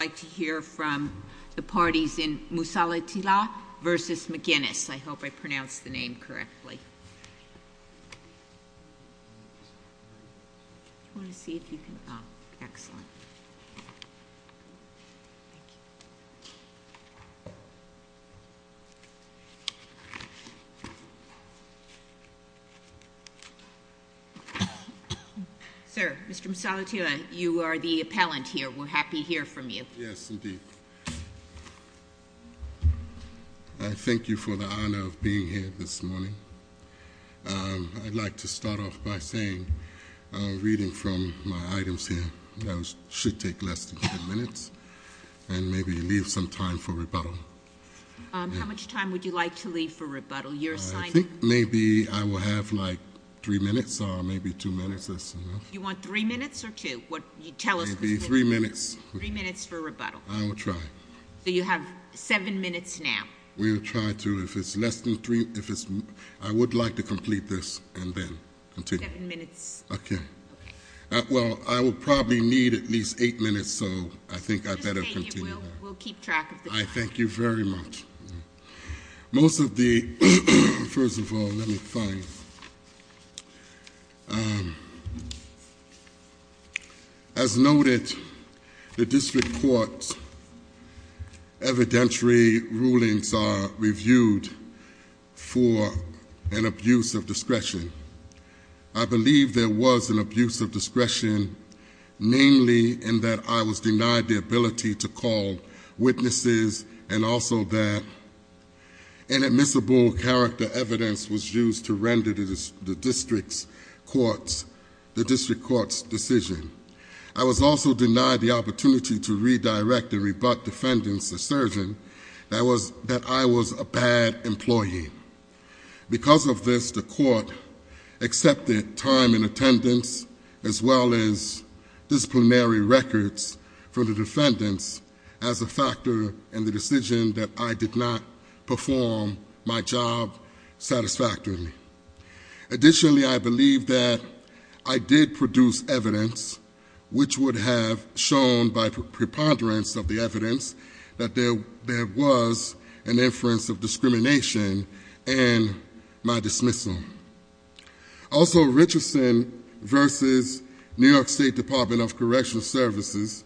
I'd like to hear from the parties in Mussallihattillah v. McGinnis. I hope I pronounced the name correctly. Sir, Mr. Mussallihattillah, you are the appellant here. We're happy to hear from you. Yes, indeed. I thank you for the honor of being here this morning. I'd like to start off by saying, reading from my items here, that should take less than two minutes. And maybe leave some time for rebuttal. How much time would you like to leave for rebuttal? Your assignment? I think maybe I will have like three minutes or maybe two minutes. Do you want three minutes or two? Tell us specifically. Three minutes. Three minutes for rebuttal. I will try. So you have seven minutes now. We will try to, if it's less than three, I would like to complete this and then continue. Seven minutes. Okay. Well, I will probably need at least eight minutes, so I think I better continue. We'll keep track of the time. I thank you very much. Most of the, first of all, let me find. As noted, the district court's evidentiary rulings are reviewed for an abuse of discretion. I believe there was an abuse of discretion, namely in that I was denied the ability to call witnesses and also that inadmissible character evidence was used to render the district court's decision. I was also denied the opportunity to redirect and rebut defendants' assertion that I was a bad employee. Because of this, the court accepted time in attendance as well as disciplinary records from the defendants as a factor in the decision that I did not perform my job satisfactorily. Additionally, I believe that I did produce evidence which would have shown by preponderance of the evidence that there was an inference of discrimination in my dismissal. Also, Richardson versus New York State Department of Correctional Services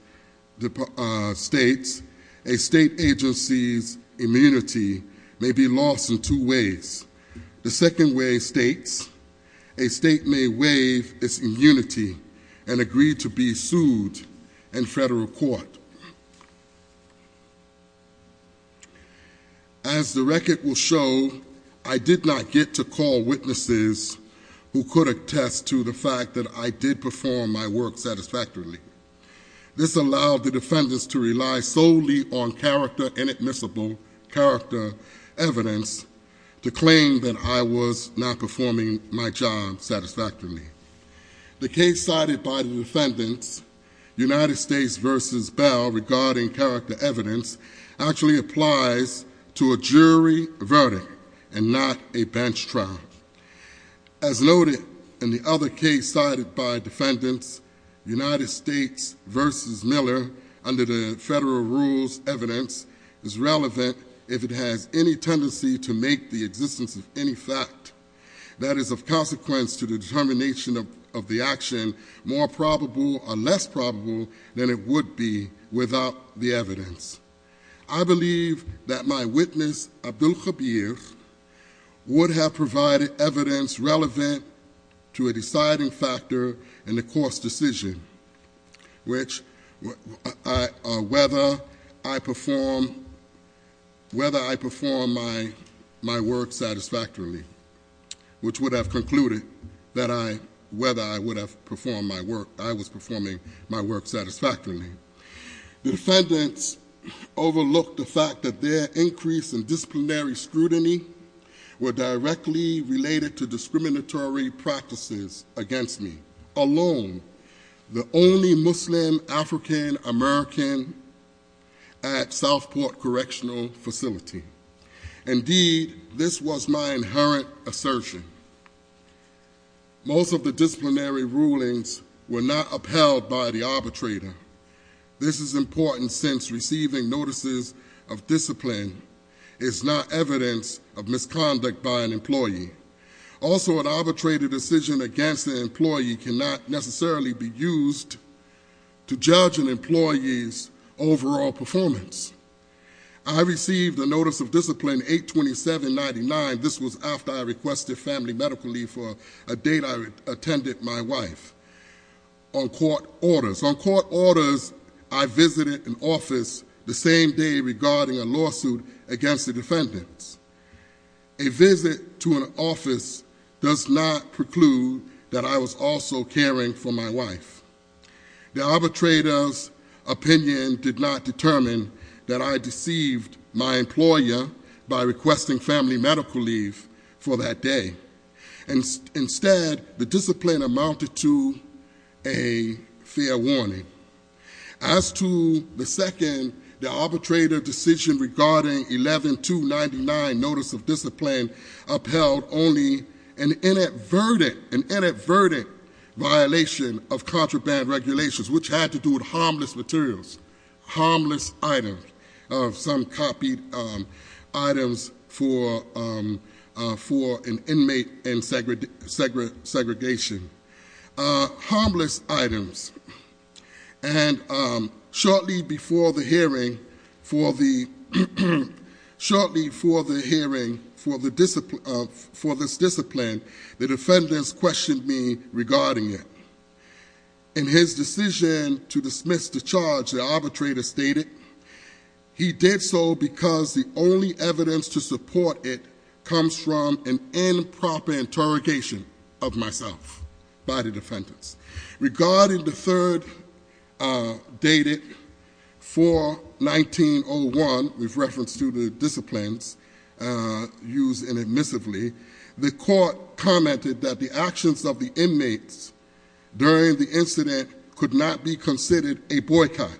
states, a state agency's immunity may be lost in two ways. The second way states, a state may waive its immunity and agree to be sued in federal court. As the record will show, I did not get to call witnesses who could attest to the fact that I did perform my work satisfactorily. This allowed the defendants to rely solely on character, inadmissible character evidence to claim that I was not performing my job satisfactorily. The case cited by the defendants, United States versus Bell regarding character evidence, actually applies to a jury verdict and not a bench trial. As noted in the other case cited by defendants, United States versus Miller under the federal rules evidence is relevant if it has any tendency to make the existence of any fact that is of consequence to the determination of the action more probable or less probable than it would be without the evidence. I believe that my witness, Abdul Kabir, would have provided evidence relevant to a deciding factor in the court's decision, which whether I perform my work satisfactorily, which would have concluded that I, whether I would have performed my work, I was performing my work satisfactorily. The defendants overlooked the fact that their increase in disciplinary scrutiny were directly related to discriminatory practices against me. I am alone the only Muslim African American at Southport Correctional Facility. Indeed, this was my inherent assertion. Most of the disciplinary rulings were not upheld by the arbitrator. This is important since receiving notices of discipline is not evidence of misconduct by an employee. Also, an arbitrated decision against an employee cannot necessarily be used to judge an employee's overall performance. I received a notice of discipline 82799. This was after I requested family medical leave for a date I attended my wife. On court orders, I visited an office the same day regarding a lawsuit against the defendants. A visit to an office does not preclude that I was also caring for my wife. The arbitrator's opinion did not determine that I deceived my employer by requesting family medical leave for that day. And instead, the discipline amounted to a fair warning. As to the second, the arbitrator decision regarding 11299 notice of discipline upheld only an inadvertent violation of contraband regulations, which had to do with harmless materials, harmless items. Some copied items for an inmate and segregation. Harmless items. And shortly before the hearing for this discipline, the defendants questioned me regarding it. In his decision to dismiss the charge, the arbitrator stated, he did so because the only evidence to support it Regarding the third dated 41901, with reference to the disciplines used inadmissively, the court commented that the actions of the inmates during the incident could not be considered a boycott.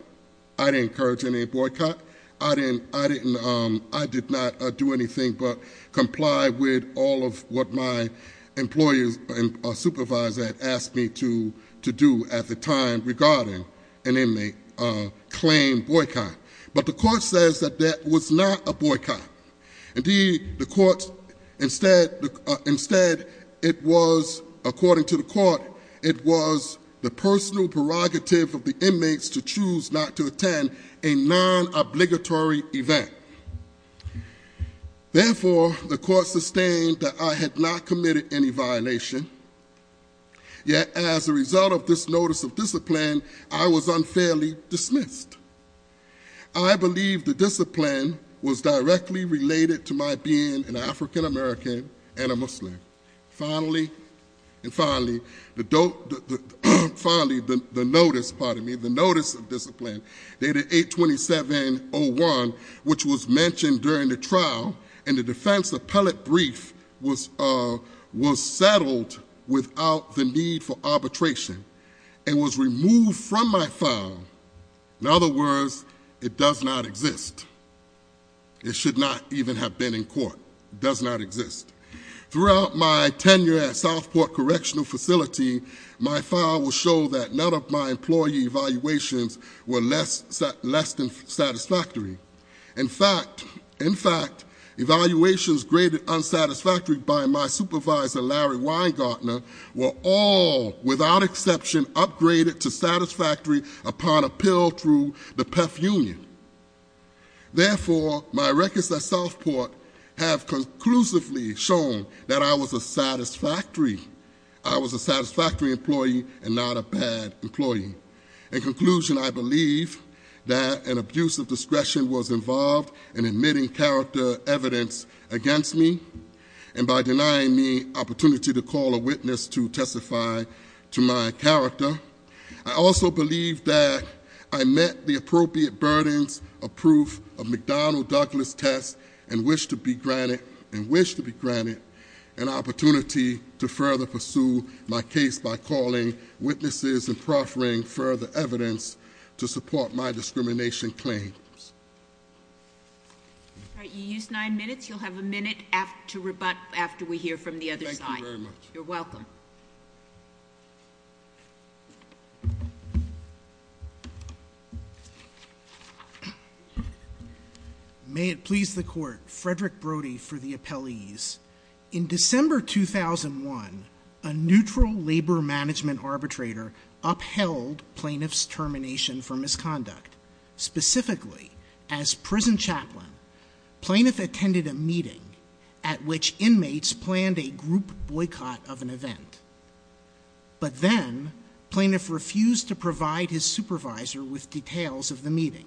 I didn't encourage any boycott. I did not do anything but comply with all of what my employer's supervisor had asked me to do at the time regarding an inmate claim boycott. But the court says that that was not a boycott. Indeed, the court, instead, it was, according to the court, it was the personal prerogative of the inmates to choose not to attend a non-obligatory event. Therefore, the court sustained that I had not committed any violation. Yet, as a result of this notice of discipline, I was unfairly dismissed. I believe the discipline was directly related to my being an African American and a Muslim. Finally, the notice of discipline, dated 82701, which was mentioned during the trial in the defense appellate brief, was settled without the need for arbitration and was removed from my file. In other words, it does not exist. It should not even have been in court. It does not exist. Throughout my tenure at Southport Correctional Facility, my file will show that none of my employee evaluations were less than satisfactory. In fact, evaluations graded unsatisfactory by my supervisor Larry Weingartner were all, without exception, upgraded to satisfactory upon appeal through the PEPF union. Therefore, my records at Southport have conclusively shown that I was a satisfactory employee. And not a bad employee. In conclusion, I believe that an abuse of discretion was involved in admitting character evidence against me. And by denying me opportunity to call a witness to testify to my character. I also believe that I met the appropriate burdens of proof of McDonnell Douglas test and I wish to be granted, and wish to be granted, an opportunity to further pursue my case by calling witnesses and proffering further evidence to support my discrimination claims. All right, you used nine minutes. You'll have a minute to rebut after we hear from the other side. Thank you very much. You're welcome. May it please the court, Frederick Brody for the appellees. In December 2001, a neutral labor management arbitrator upheld plaintiff's termination for misconduct. Specifically, as prison chaplain, plaintiff attended a meeting at which inmates planned a group boycott of an event. But then, plaintiff refused to provide his supervisor with details of the meeting.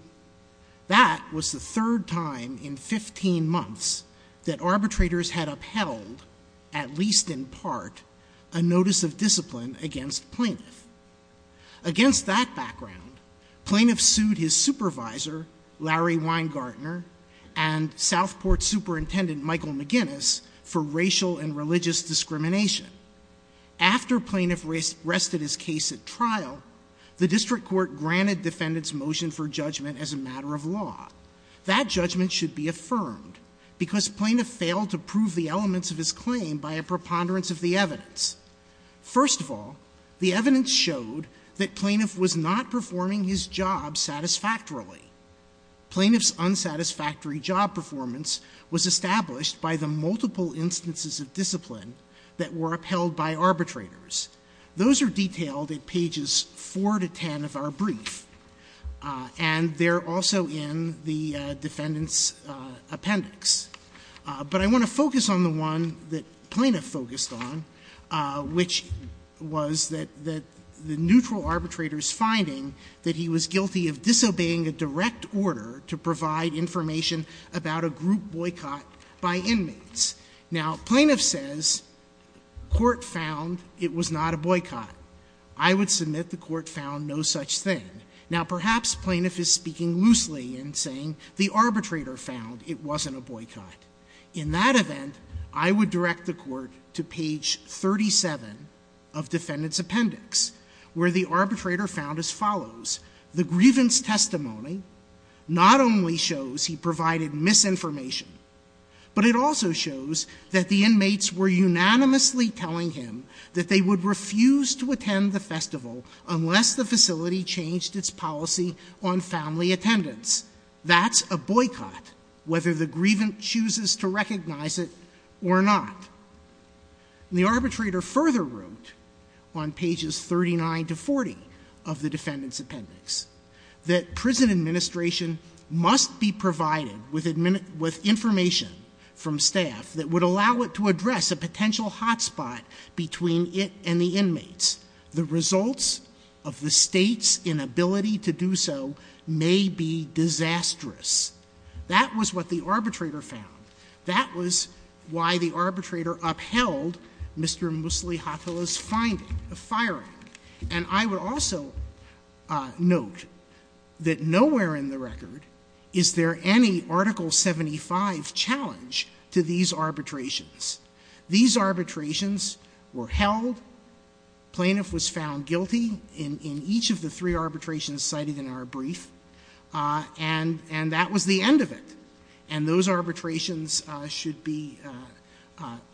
That was the third time in 15 months that arbitrators had upheld, at least in part, a notice of discipline against plaintiff. Against that background, plaintiff sued his supervisor, Larry Weingartner, and Southport superintendent, Michael McGinnis, for racial and religious discrimination. After plaintiff rested his case at trial, the district court granted defendant's motion for judgment as a matter of law. That judgment should be affirmed because plaintiff failed to prove the elements of his claim by a preponderance of the evidence. First of all, the evidence showed that plaintiff was not performing his job satisfactorily. Plaintiff's unsatisfactory job performance was established by the multiple instances of discipline that were upheld by arbitrators. Those are detailed at pages 4 to 10 of our brief, and they're also in the defendant's appendix. But I want to focus on the one that plaintiff focused on, which was that the neutral arbitrator's finding that he was guilty of disobeying a direct order to provide information about a group boycott by inmates. Now, plaintiff says court found it was not a boycott. I would submit the court found no such thing. Now, perhaps plaintiff is speaking loosely and saying the arbitrator found it wasn't a boycott. In that event, I would direct the court to page 37 of defendant's appendix, where the arbitrator found as follows. The grievance testimony not only shows he provided misinformation, but it also shows that the inmates were unanimously telling him that they would refuse to attend the festival unless the facility changed its policy on family attendance. That's a boycott, whether the grievance chooses to recognize it or not. And the arbitrator further wrote on pages 39 to 40 of the defendant's appendix, that prison administration must be provided with information from staff that would allow it to address a potential hotspot between it and the inmates. The results of the State's inability to do so may be disastrous. That was what the arbitrator found. That was why the arbitrator upheld Mr. Musli-Hathala's finding of firing. And I would also note that nowhere in the record is there any Article 75 challenge to these arbitrations. These arbitrations were held. Plaintiff was found guilty in each of the three arbitrations cited in our brief. And that was the end of it. And those arbitrations should be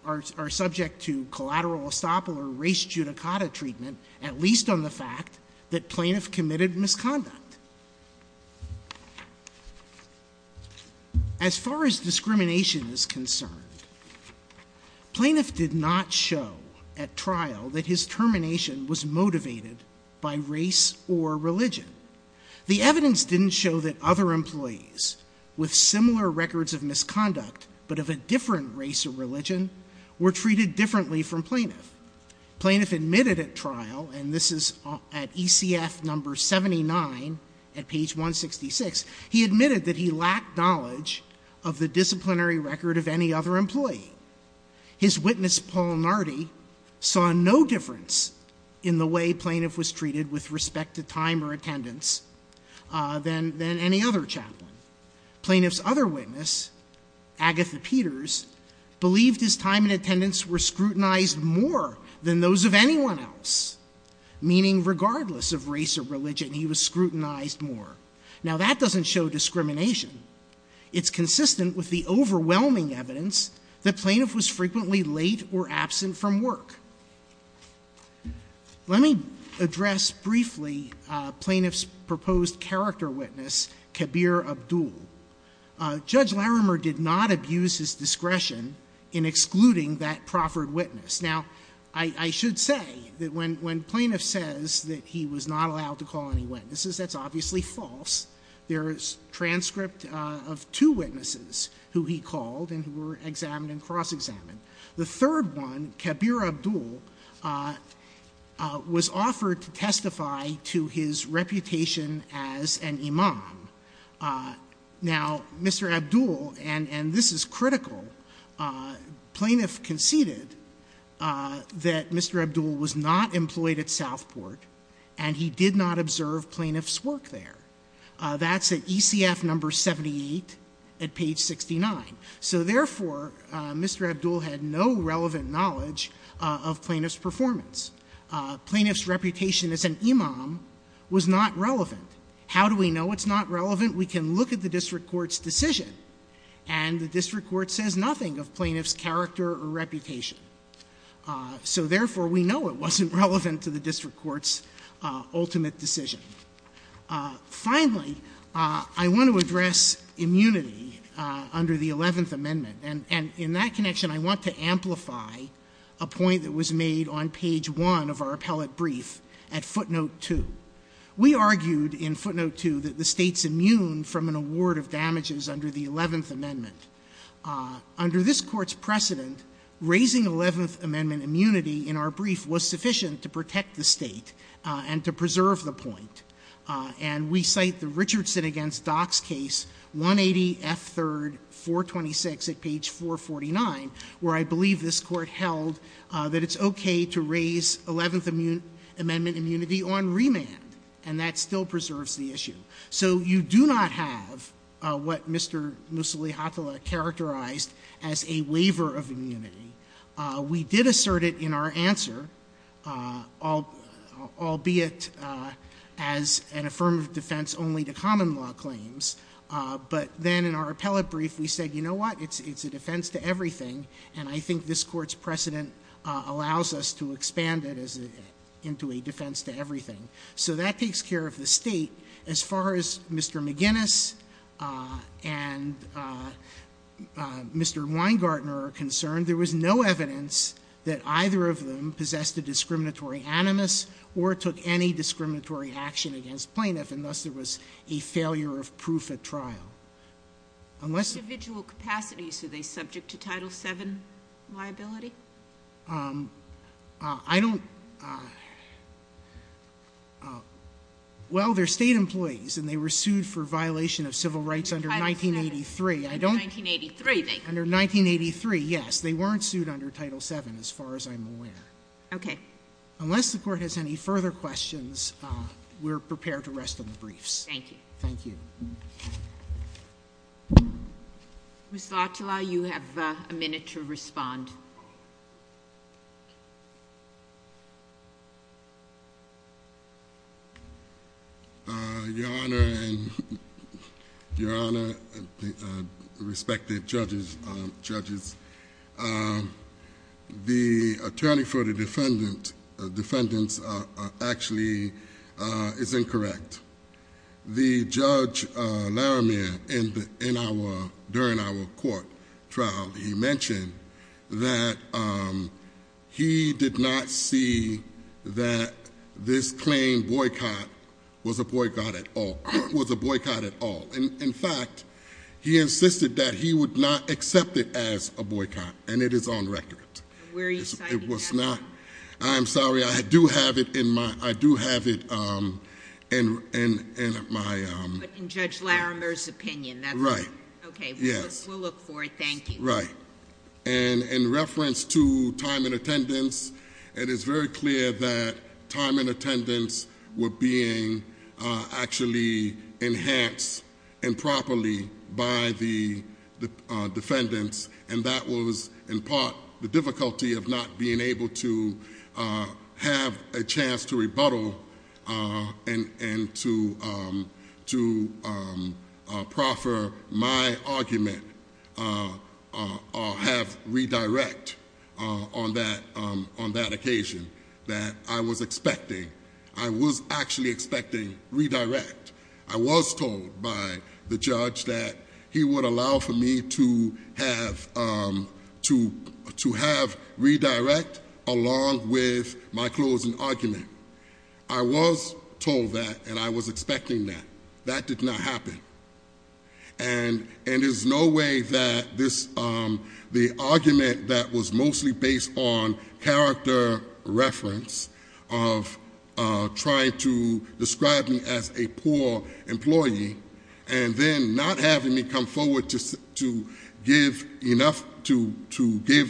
or are subject to collateral estoppel or race judicata treatment, at least on the fact that plaintiff committed misconduct. As far as discrimination is concerned, plaintiff did not show at trial that his termination was motivated by race or religion. The evidence didn't show that other employees with similar records of misconduct but of a different race or religion were treated differently from plaintiff. Plaintiff admitted at trial, and this is at ECF No. 79 at page 166, he admitted that he lacked knowledge of the disciplinary record of any other employee. His witness, Paul Nardi, saw no difference in the way plaintiff was treated with respect to time or attendance than any other chaplain. Plaintiff's other witness, Agatha Peters, believed his time and attendance were more than those of anyone else, meaning regardless of race or religion, he was scrutinized more. Now, that doesn't show discrimination. It's consistent with the overwhelming evidence that plaintiff was frequently late or absent from work. Let me address briefly plaintiff's proposed character witness, Kabir Abdul. Judge Larimer did not abuse his discretion in excluding that proffered witness. Now, I should say that when plaintiff says that he was not allowed to call any witnesses, that's obviously false. There is transcript of two witnesses who he called and who were examined and cross-examined. The third one, Kabir Abdul, was offered to testify to his reputation as an imam. Now, Mr. Abdul, and this is critical, plaintiff conceded that Mr. Abdul was not employed at Southport and he did not observe plaintiff's work there. That's at ECF number 78 at page 69. So, therefore, Mr. Abdul had no relevant knowledge of plaintiff's performance. Plaintiff's reputation as an imam was not relevant. How do we know it's not relevant? We can look at the district court's decision, and the district court says nothing of plaintiff's character or reputation. So, therefore, we know it wasn't relevant to the district court's ultimate decision. Finally, I want to address immunity under the 11th Amendment, and in that connection, I want to amplify a point that was made on page 1 of our appellate brief at footnote 2. We argued in footnote 2 that the State's immune from an award of damages under the 11th Amendment. Under this Court's precedent, raising 11th Amendment immunity in our brief was sufficient to protect the State and to preserve the point. And we cite the Richardson v. Dock's case, 180F3-426 at page 449, where I believe this Court held that it's okay to raise 11th Amendment immunity on remand, and that still preserves the issue. So you do not have what Mr. Mussolini-Hatala characterized as a waiver of immunity. We did assert it in our answer, albeit as an affirmative defense only to common law claims, but then in our appellate brief we said, you know what, it's a defense to everything, and I think this Court's precedent allows us to expand it into a defense to everything. So that takes care of the State. As far as Mr. McGinnis and Mr. Weingartner are concerned, there was no evidence that either of them possessed a discriminatory animus or took any discriminatory action against plaintiff, and thus there was a failure of proof at trial. Unless Individual capacities, are they subject to Title VII liability? I don't — well, they're State employees, and they were sued for violation of civil rights under 1983. Under 1983, they were. Under 1983, yes. They weren't sued under Title VII, as far as I'm aware. Okay. Unless the Court has any further questions, we're prepared to rest on the briefs. Thank you. Thank you. Ms. Latula, you have a minute to respond. Your Honor and respected judges, the attorney for the defendants actually is incorrect. The Judge Laramiere, during our court trial, he mentioned that he did not see that this claim boycott was a boycott at all. It was a boycott at all. In fact, he insisted that he would not accept it as a boycott, and it is on record. Where are you citing that one? I'm sorry. I do have it in my... In Judge Laramiere's opinion. Right. Okay. We'll look for it. Thank you. Right. In reference to time in attendance, it is very clear that time in attendance were being actually enhanced improperly by the defendants, and that was in part the difficulty of not being able to have a chance to rebuttal and to proffer my argument or have redirect on that occasion that I was expecting. I was actually expecting redirect. I was told by the judge that he would allow for me to have redirect along with my closing argument. I was told that, and I was expecting that. That did not happen. And there's no way that the argument that was mostly based on character reference of trying to describe me as a poor employee and then not having me come forward to give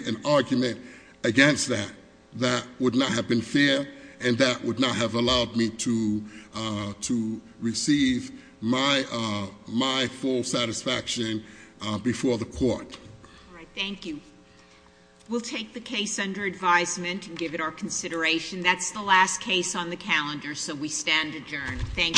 an argument against that, that would not have been fair, and that would not have allowed me to receive my full satisfaction before the court. All right. Thank you. We'll take the case under advisement and give it our consideration. That's the last case on the calendar, so we stand adjourned. Thank you all.